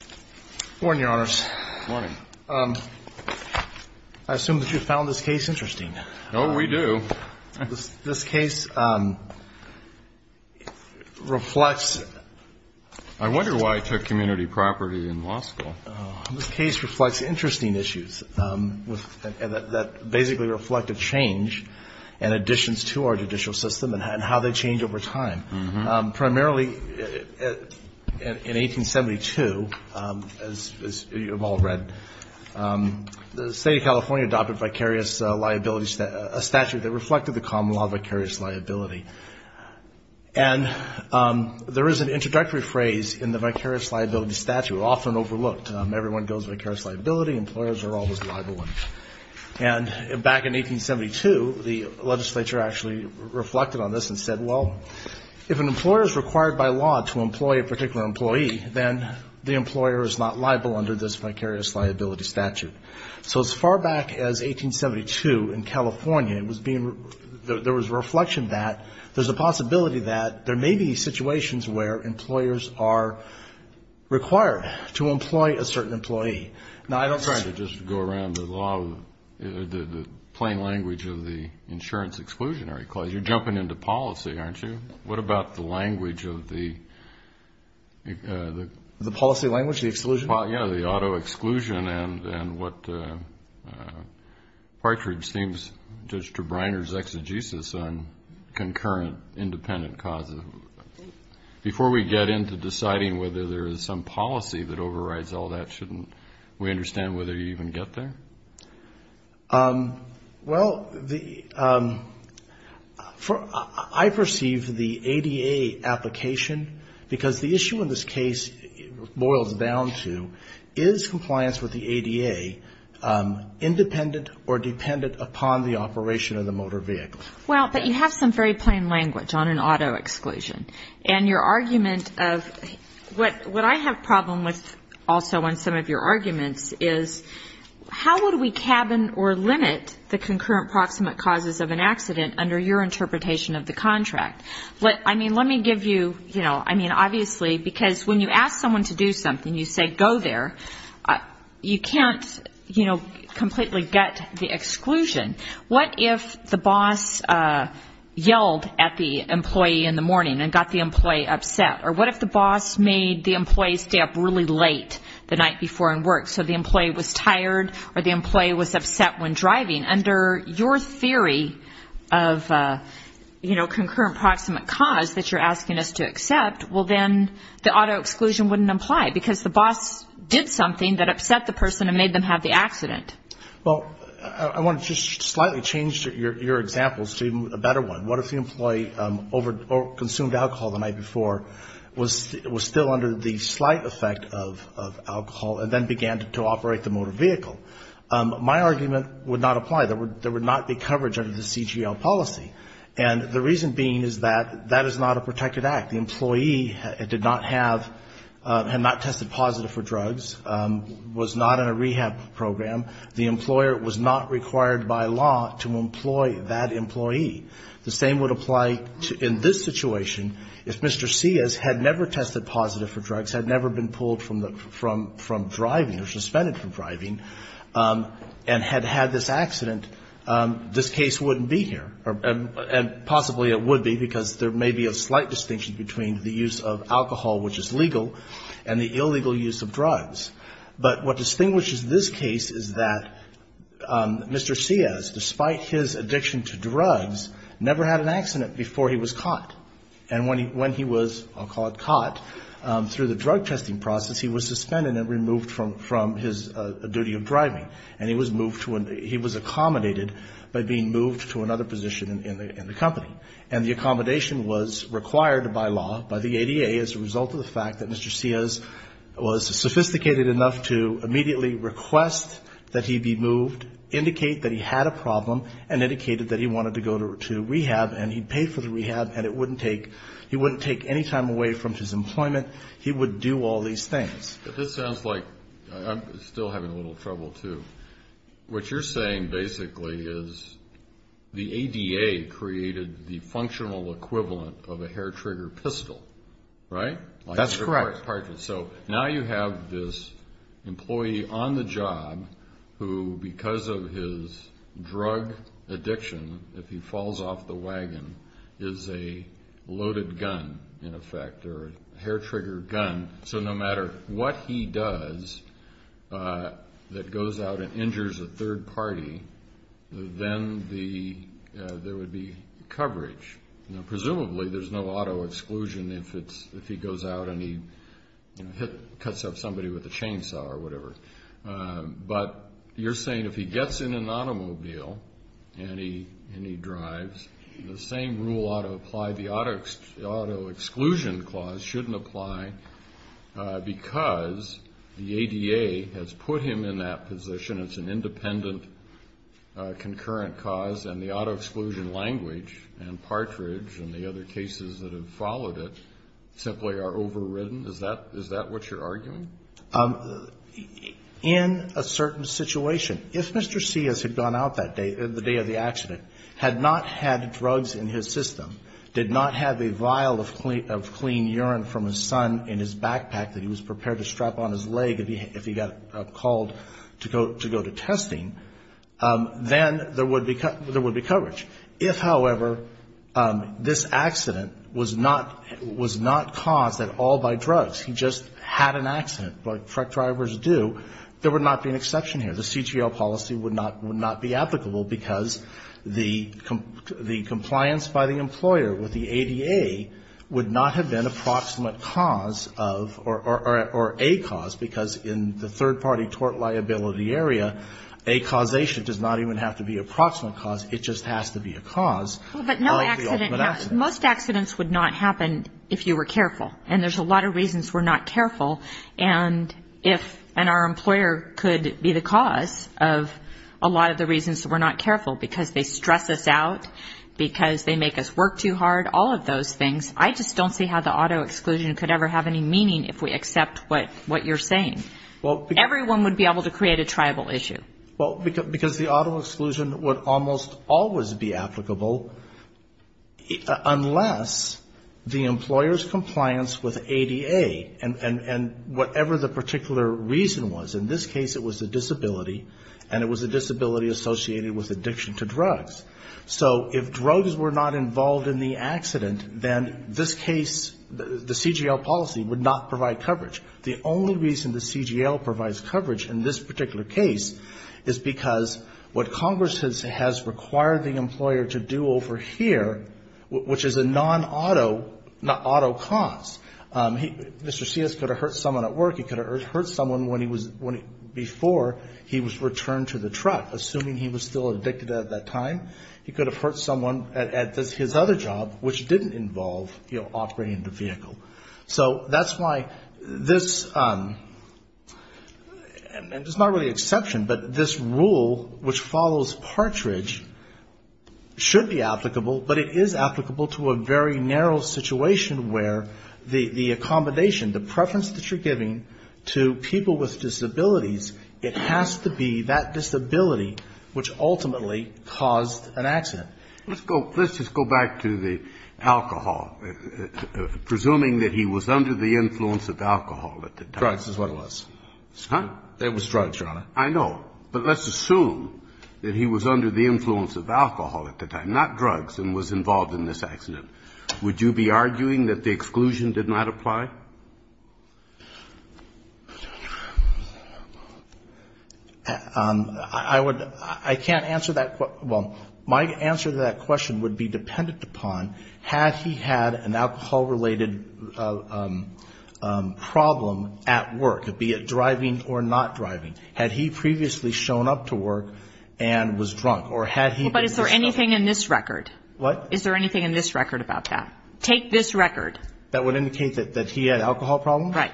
I assume that you found this case interesting. Oh, we do. This case reflects... I wonder why I took community property in law school. This case reflects interesting issues that basically reflect a change in additions to our judicial system and how they change over time. Primarily, in 1872, as you've all read, the state of California adopted a statute that reflected the common law of vicarious liability. And there is an introductory phrase in the vicarious liability statute often overlooked. Everyone goes vicarious liability, employers are always liable. And back in 1872, the legislature actually reflected on this and said, well, if an employer is required by law to employ a particular employee, then the employer is not liable under this vicarious liability statute. So as far back as 1872 in California, there was a reflection that there's a possibility that there may be situations where employers are required to employ a certain employee. I'm sorry to just go around the law, the plain language of the insurance exclusionary clause. You're jumping into policy, aren't you? What about the language of the... The policy language, the exclusion? Yeah, the auto exclusion and what Partridge deems Judge Trebriner's exegesis on concurrent independent causes. Before we get into deciding whether there is some policy that overrides all that, shouldn't we understand whether you even get there? Well, I perceive the ADA application, because the issue in this case boils down to, is compliance with the ADA independent or dependent upon the operation of the motor vehicle? Well, but you have some very plain language on an auto exclusion. And your argument of what I have a problem with also on some of your arguments is, how would we cabin or limit the concurrent proximate causes of an accident under your interpretation of the contract? I mean, let me give you, you know, I mean, obviously, because when you ask someone to do something, you say, go there. You can't, you know, completely gut the exclusion. What if the boss yelled at the employee in the morning and got the employee upset? Or what if the boss made the employee stay up really late the night before and work, so the employee was tired or the employee was upset when driving? Under your theory of, you know, concurrent proximate cause that you're asking us to accept, well, then the auto exclusion wouldn't apply, because the boss did something that upset the person and made them have the accident. Well, I want to just slightly change your examples to a better one. What if the employee consumed alcohol the night before, was still under the slight effect of alcohol, and then began to operate the motor vehicle? My argument would not apply. There would not be coverage under the CGL policy. And the reason being is that that is not a protected act. The employee did not have, had not tested positive for drugs, was not in a rehab program. The employer was not required by law to employ that employee. The same would apply in this situation. If Mr. Sias had never tested positive for drugs, had never been pulled from driving or suspended from driving, and had had this accident, this case wouldn't be here. And possibly it would be, because there may be a slight distinction between the use of alcohol, which is legal, and the illegal use of drugs. But what distinguishes this case is that Mr. Sias, despite his addiction to drugs, never had an accident before he was caught. And when he was, I'll call it caught, through the drug testing process, he was suspended and removed from his duty of driving. And he was moved to, he was accommodated by being moved to another position in the company. And the accommodation was required by law, by the ADA, as a result of the fact that Mr. Sias was sophisticated enough to immediately request that he be moved, indicate that he had a problem, and indicated that he wanted to go to rehab, and he paid for the rehab, and it wouldn't take, he wouldn't take any time away from his employment. He would do all these things. But this sounds like, I'm still having a little trouble, too. What you're saying basically is the ADA created the functional equivalent of a hair-trigger pistol, right? That's correct. So now you have this employee on the job who, because of his drug addiction, if he falls off the wagon, is a loaded gun, in effect, or a hair-trigger gun. So no matter what he does that goes out and injures a third party, then there would be coverage. Presumably there's no auto exclusion if he goes out and he cuts up somebody with a chainsaw or whatever. But you're saying if he gets in an automobile and he drives, the same rule ought to apply. The auto exclusion clause shouldn't apply because the ADA has put him in that position. It's an independent concurrent cause, and the auto exclusion language and partridge and the other cases that have followed it simply are overridden? Is that what you're arguing? In a certain situation, if Mr. Ciaz had gone out that day, the day of the accident, had not had drugs in his system, did not have a vial of clean urine from his son in his backpack that he was prepared to strap on his leg if he got called to go to testing, then there would be coverage. If, however, this accident was not caused at all by drugs, he just had an accident like truck drivers do, there would not be an exception here. So the CGL policy would not be applicable because the compliance by the employer with the ADA would not have been approximate cause of or a cause, because in the third party tort liability area, a causation does not even have to be approximate cause. It just has to be a cause of the ultimate accident. But most accidents would not happen if you were careful. And there's a lot of reasons we're not careful. And our employer could be the cause of a lot of the reasons we're not careful, because they stress us out, because they make us work too hard, all of those things. I just don't see how the auto exclusion could ever have any meaning if we accept what you're saying. Everyone would be able to create a tribal issue. Well, because the auto exclusion would almost always be applicable unless the employer's compliance with ADA and whatever the particular reason was. In this case it was a disability, and it was a disability associated with addiction to drugs. So if drugs were not involved in the accident, then this case, the CGL policy would not provide coverage. The only reason the CGL provides coverage in this particular case is because what Congress has required the Mr. Sias could have hurt someone at work, he could have hurt someone before he was returned to the truck. Assuming he was still addicted at that time, he could have hurt someone at his other job, which didn't involve operating the vehicle. So that's why this, and it's not really an exception, but this rule which follows Partridge should be applicable, but it is applicable to a very narrow situation where the accommodation, the preference that you're giving to people with disabilities, it has to be that disability which ultimately caused an accident. Let's just go back to the alcohol. Presuming that he was under the influence of alcohol at the time. Drugs is what it was. Huh? It was drugs, Your Honor. I know. But let's assume that he was under the influence of alcohol at the time, not drugs, and was involved in this accident. Would you be arguing that the exclusion did not apply? I would. I can't answer that. Well, my answer to that question would be dependent upon had he had an alcohol-related problem at work, be it driving or not driving. Had he previously shown up to work and was drunk, or had he been. But is there anything in this record? What? Is there anything in this record about that? Take this record. That would indicate that he had an alcohol problem? Right.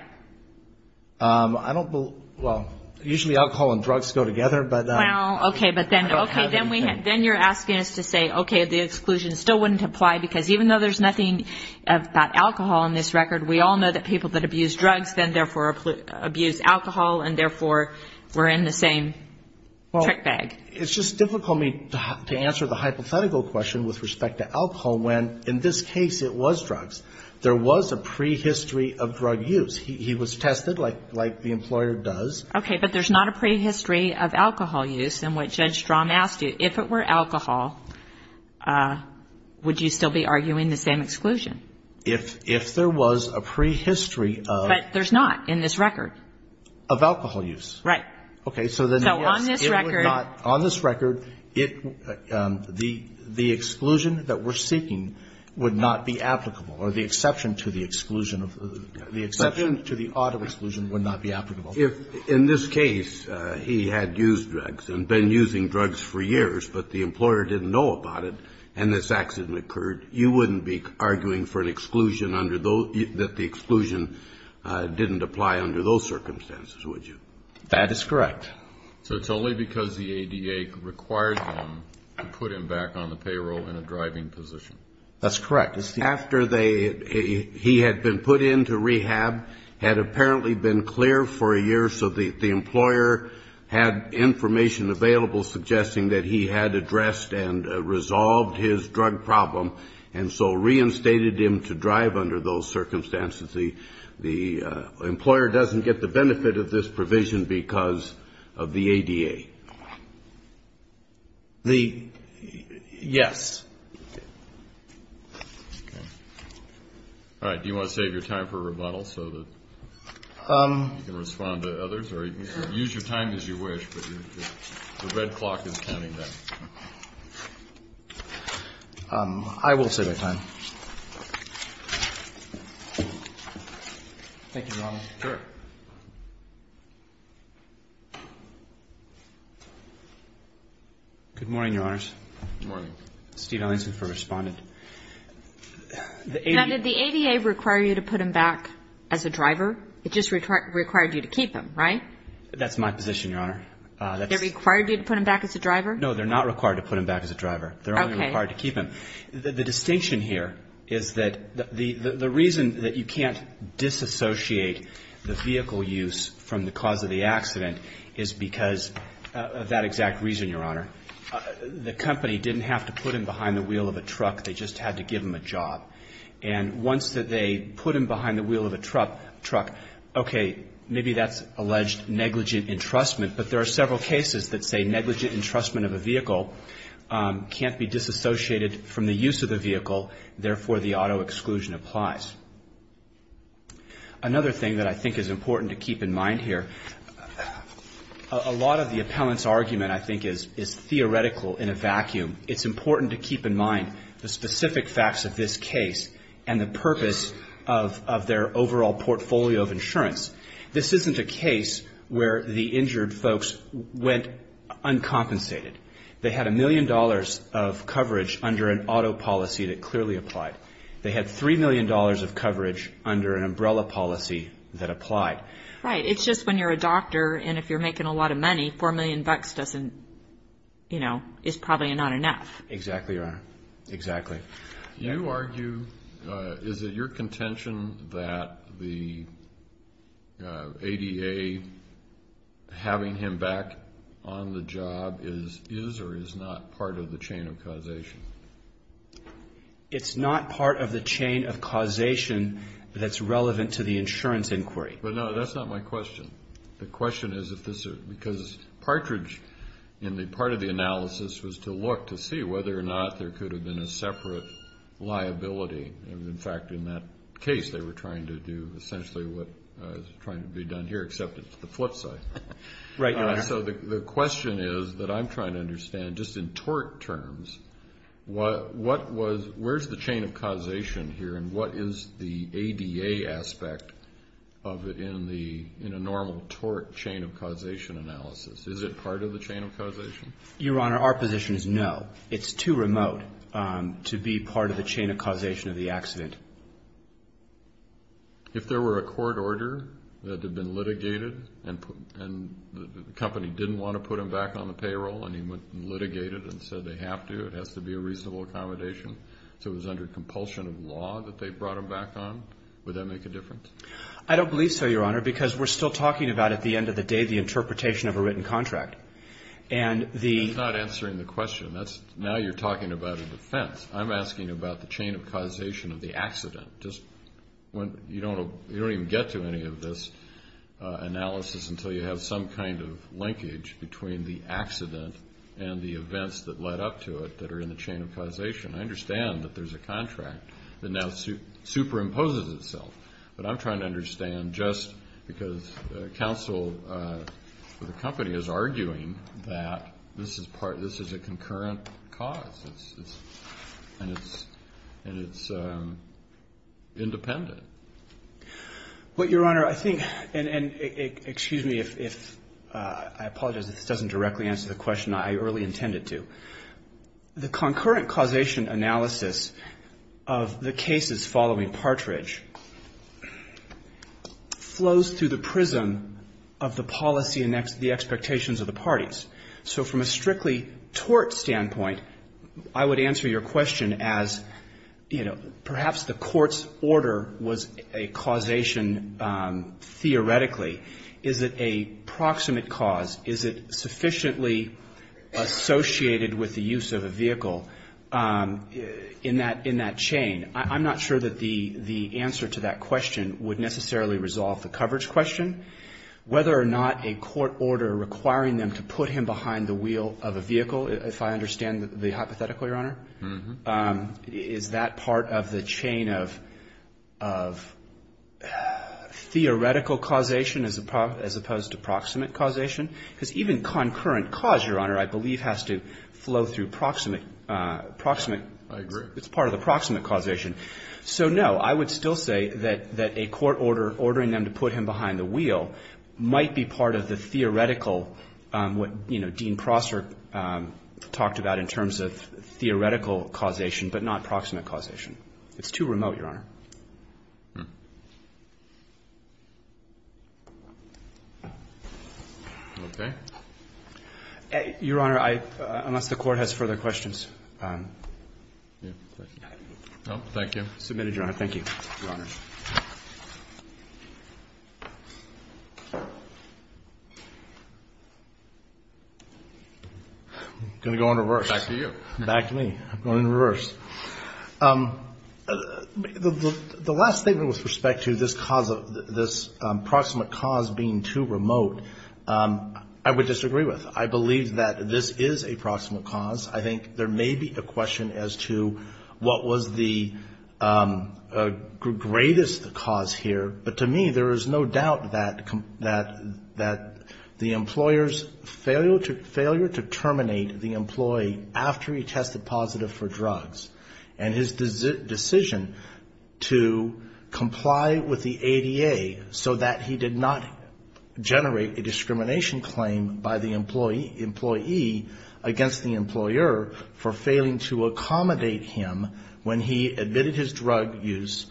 I don't, well, usually alcohol and drugs go together, but. Well, okay, but then you're asking us to say, okay, the exclusion still wouldn't apply, because even though there's nothing about alcohol in this record, we all know that people that abuse drugs then therefore abuse alcohol, and therefore we're in the same trick bag. Well, it's just difficult for me to answer the hypothetical question with respect to alcohol, when in this case it was drugs. There was a prehistory of drug use. He was tested, like the employer does. Okay, but there's not a prehistory of alcohol use. And what Judge Strahm asked you, if it were alcohol, would you still be arguing the same exclusion? If there was a prehistory of. But there's not in this record. Of alcohol use. Right. Okay, so then. So on this record. On this record, it, the exclusion that we're seeking would not be applicable, or the exception to the exclusion of, the exception to the auto exclusion would not be applicable. If in this case he had used drugs and been using drugs for years, but the employer didn't know about it, and this accident occurred, you wouldn't be arguing for an exclusion under those, that the exclusion didn't apply under those circumstances, would you? That is correct. So it's only because the ADA required him to put him back on the payroll in a driving position. That's correct. After they, he had been put into rehab, had apparently been clear for a year, so the employer had information available suggesting that he had addressed and resolved his drug problem, and so reinstated him to drive under those circumstances. The employer doesn't get the benefit of this provision because of the ADA. The, yes. Okay. All right. Do you want to save your time for rebuttal so that you can respond to others, or use your time as you wish, but the red clock is counting down. I will save my time. Thank you, Your Honor. Sure. Good morning, Your Honors. Good morning. Steve Ellingson for Respondent. Now, did the ADA require you to put him back as a driver? It just required you to keep him, right? That's my position, Your Honor. They required you to put him back as a driver? No, they're not required to put him back as a driver. They're only required to keep him. Okay. The distinction here is that the reason that you can't disassociate the vehicle use from the cause of the accident is because of that exact reason, Your Honor. The company didn't have to put him behind the wheel of a truck. They just had to give him a job. And once they put him behind the wheel of a truck, okay, maybe that's alleged negligent entrustment, but there are several cases that say negligent entrustment of a vehicle can't be disassociated from the use of the vehicle. Therefore, the auto exclusion applies. Another thing that I think is important to keep in mind here, a lot of the appellant's argument, I think, is theoretical in a vacuum. It's important to keep in mind the specific facts of this case and the purpose of their overall portfolio of insurance. This isn't a case where the injured folks went uncompensated. They had a million dollars of coverage under an auto policy that clearly applied. They had $3 million of coverage under an umbrella policy that applied. Right. It's just when you're a doctor and if you're making a lot of money, $4 million is probably not enough. Exactly, Your Honor. Exactly. You argue, is it your contention that the ADA having him back on the job is or is not part of the chain of causation? It's not part of the chain of causation that's relevant to the insurance inquiry. But, no, that's not my question. The question is if this is because Partridge, in the part of the analysis, was to look to see whether or not there could have been a separate liability. In fact, in that case, they were trying to do essentially what is trying to be done here, except it's the flip side. Right, Your Honor. So the question is that I'm trying to understand, just in tort terms, where's the chain of causation here and what is the ADA aspect of it in a normal tort chain of causation analysis? Is it part of the chain of causation? Your Honor, our position is no. It's too remote to be part of the chain of causation of the accident. If there were a court order that had been litigated and the company didn't want to put him back on the payroll and he went and litigated and said they have to, it has to be a reasonable accommodation, so it was under compulsion of law that they brought him back on, would that make a difference? I don't believe so, Your Honor, because we're still talking about at the end of the day the interpretation of a written contract. That's not answering the question. Now you're talking about a defense. I'm asking about the chain of causation of the accident. You don't even get to any of this analysis until you have some kind of linkage between the accident and the events that led up to it that are in the chain of causation. I understand that there's a contract that now superimposes itself, but I'm trying to understand just because counsel for the company is arguing that this is a concurrent cause and it's independent. Well, Your Honor, I think, and excuse me if I apologize if this doesn't directly answer the question I really intended to. The concurrent causation analysis of the cases following Partridge flows through the prism of the policy and the expectations of the parties. So from a strictly tort standpoint, I would answer your question as, you know, perhaps the court's order was a causation theoretically. Is it a proximate cause? Is it sufficiently associated with the use of a vehicle in that chain? I'm not sure that the answer to that question would necessarily resolve the coverage question, whether or not a court order requiring them to put him behind the wheel of a vehicle, if I understand the hypothetical, Your Honor. Is that part of the chain of theoretical causation as opposed to proximate causation? Because even concurrent cause, Your Honor, I believe has to flow through proximate ‑‑ I agree. It's part of the proximate causation. So, no, I would still say that a court order ordering them to put him behind the wheel might be part of the theoretical, what, you know, Dean Prosser talked about in terms of theoretical causation, but not proximate causation. It's too remote, Your Honor. Okay. Your Honor, unless the court has further questions. No, thank you. Submitted, Your Honor. Thank you, Your Honor. I'm going to go in reverse. Back to me. I'm going in reverse. The last thing with respect to this cause of ‑‑ this proximate cause being too remote, I would disagree with. I believe that this is a proximate cause. I think there may be a question as to what was the greatest cause here, but to me, there is no doubt that the employer's failure to terminate the employee after he tested positive for drugs, and his decision to comply with the ADA so that he did not generate a discrimination claim by the employee against the employer for failing to accommodate him when he admitted his drug use,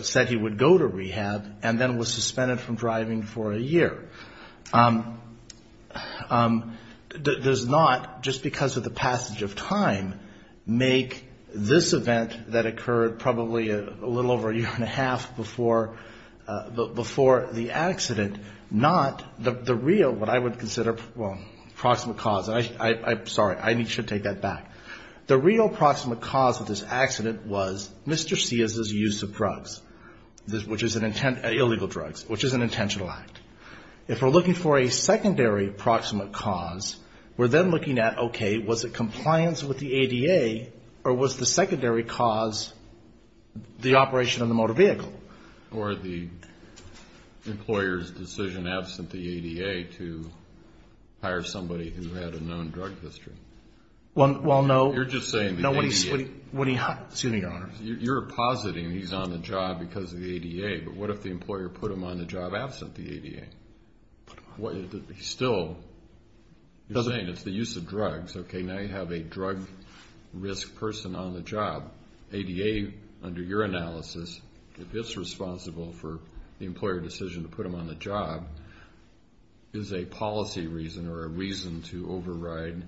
said he would go to rehab, and then was suspended from driving for a year, does not, just because of the passage of time, make this event that occurred probably a little over a year and a half before the accident not the real, what I would consider, well, proximate cause. I'm sorry. I should take that back. The real proximate cause of this accident was Mr. Ciaz's use of drugs, illegal drugs, which is an intentional act. If we're looking for a secondary proximate cause, we're then looking at, okay, was it compliance with the ADA, or was the secondary cause the operation of the motor vehicle? Or the employer's decision, absent the ADA, to hire somebody who had a known drug history. Well, no. You're just saying the ADA. No, what he, excuse me, Your Honor. You're positing he's on the job because of the ADA, but what if the employer put him on the job absent the ADA? He still, you're saying it's the use of drugs. Okay, now you have a drug risk person on the job. ADA, under your analysis, if it's responsible for the employer decision to put him on the job, is a policy reason or a reason to override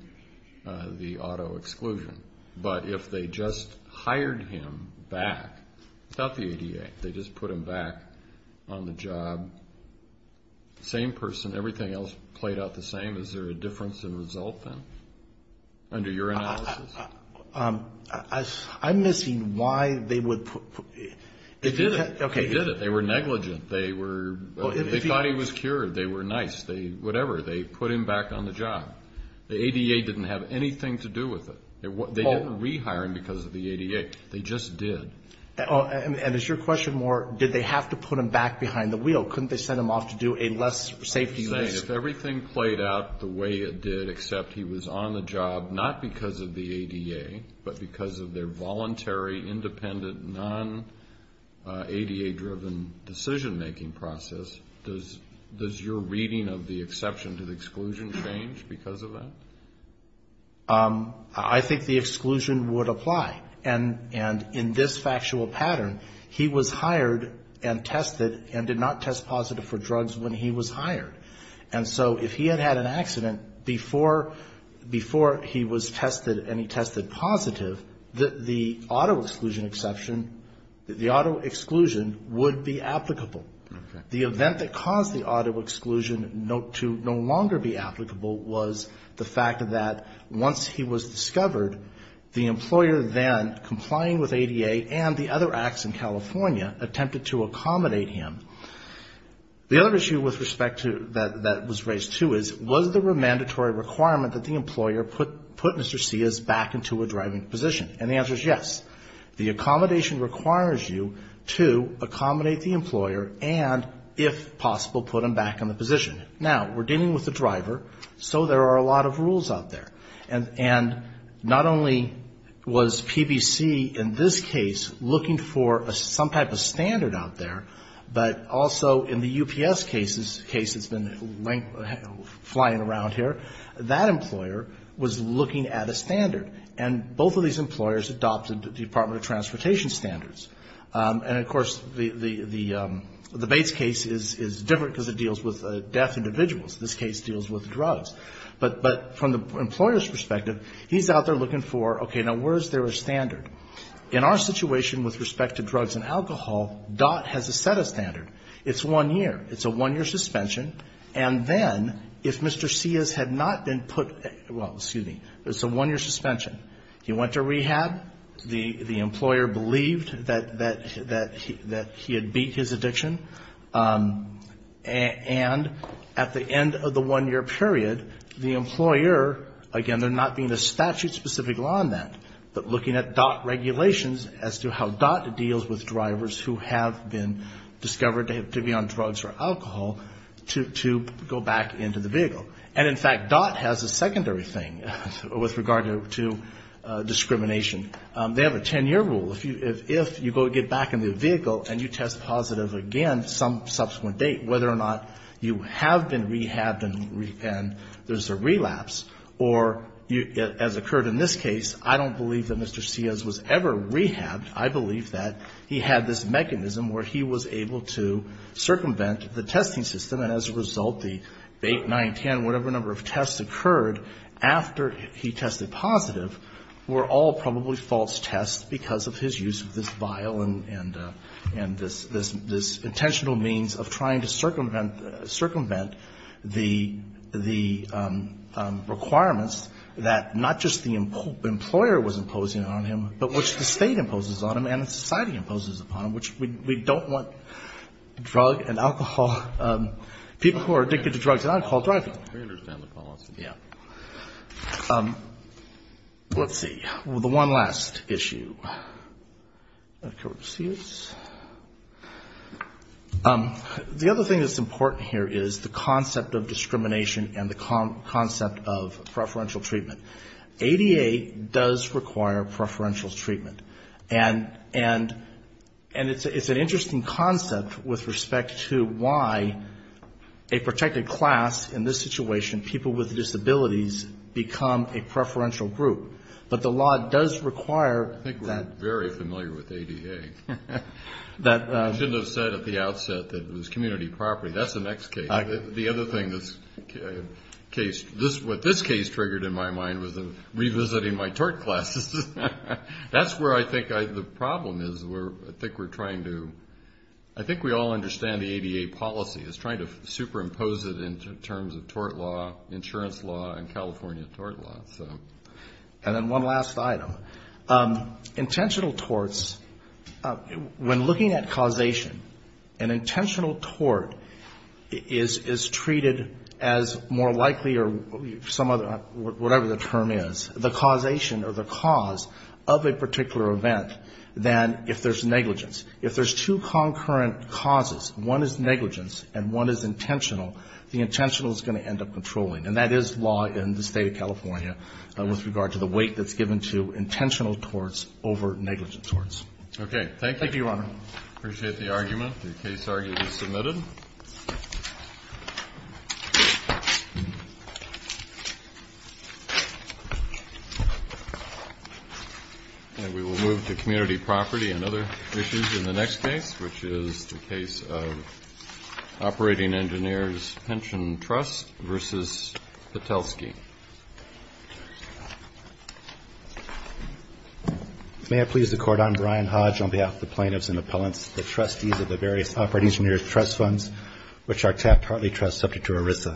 the auto exclusion. But if they just hired him back without the ADA, they just put him back on the job, same person, everything else played out the same, is there a difference in result then, under your analysis? I'm missing why they would put... They did it. Okay. They did it. They were negligent. They thought he was cured. They were nice. Whatever. They put him back on the job. The ADA didn't have anything to do with it. They didn't rehire him because of the ADA. They just did. And it's your question more, did they have to put him back behind the wheel? Couldn't they send him off to do a less safety... I'm saying if everything played out the way it did, except he was on the job, not because of the ADA, but because of their voluntary, independent, non-ADA-driven decision-making process, does your reading of the exception to the exclusion change because of that? I think the exclusion would apply. And in this factual pattern, he was hired and tested and did not test positive for drugs when he was hired. And so if he had had an accident before he was tested and he tested positive, the auto-exclusion exception, the auto-exclusion would be applicable. The event that caused the auto-exclusion to no longer be applicable was the fact that once he was discovered, the employer then, complying with ADA and the other acts in California, attempted to accommodate him. The other issue with respect to that was raised, too, is was there a mandatory requirement that the employer put Mr. Sias back into a driving position? And the answer is yes. The accommodation requires you to accommodate the employer and, if possible, put him back in the position. Now, we're dealing with a driver, so there are a lot of rules out there. And not only was PBC in this case looking for some type of standard out there, but also in the UPS case that's been flying around here, that employer was looking at a standard. And both of these employers adopted the Department of Transportation standards. And, of course, the Bates case is different because it deals with deaf individuals. This case deals with drugs. But from the employer's perspective, he's out there looking for, okay, now where is there a standard? In our situation with respect to drugs and alcohol, DOT has a set of standards. It's one year. It's a one-year suspension. And then, if Mr. Sias had not been put, well, excuse me, it's a one-year suspension. He went to rehab. The employer believed that he had beat his addiction. And at the end of the one-year period, the employer, again, there not being a statute specific law on that, but looking at DOT regulations as to how DOT deals with drivers who have been discovered to be on drugs or alcohol, to go back into the vehicle. And, in fact, DOT has a secondary thing with regard to discrimination. They have a ten-year rule. If you go get back in the vehicle and you test positive again some subsequent date, whether or not you have been rehabbed and there's a relapse, or as occurred in this case, I don't believe that Mr. Sias was ever rehabbed. I believe that he had this mechanism where he was able to circumvent the testing system. And as a result, the 8, 9, 10, whatever number of tests occurred after he tested positive were all probably false tests because of his use of this vial and this intentional means of trying to circumvent the requirements that not just the employer was imposing on him, but which the State imposes on him and the society imposes upon him, which we don't want drug and alcohol, people who are addicted to drugs and alcohol driving. We understand the policy. Yeah. Let's see. The one last issue. The other thing that's important here is the concept of discrimination and the concept of preferential treatment. ADA does require preferential treatment. And it's an interesting concept with respect to why a protected class in this situation, people with disabilities, become a preferential group. But the law does require that. I think we're very familiar with ADA. I shouldn't have said at the outset that it was community property. That's the next case. The other thing, what this case triggered in my mind was revisiting my tort classes. That's where I think the problem is. I think we all understand the ADA policy is trying to superimpose it in terms of tort law, insurance law, and California tort law. And then one last item. Intentional torts, when looking at causation, an intentional tort is treated as more likely or whatever the term is, the causation or the cause of a particular event than if there's negligence. If there's two concurrent causes, one is negligence and one is intentional, the intentional is going to end up controlling. And that is law in the State of California with regard to the weight that's given to intentional torts over negligent torts. Okay. Thank you, Your Honor. Appreciate the argument. The case argument is submitted. And we will move to community property and other issues in the next case, which is the case of Operating Engineers Pension Trust versus Patelsky. May I please the Court on Brian Hodge on behalf of the plaintiffs and appellants, the trustees of the various Operating Engineers Trust funds, which are tapped partly subject to ERISA.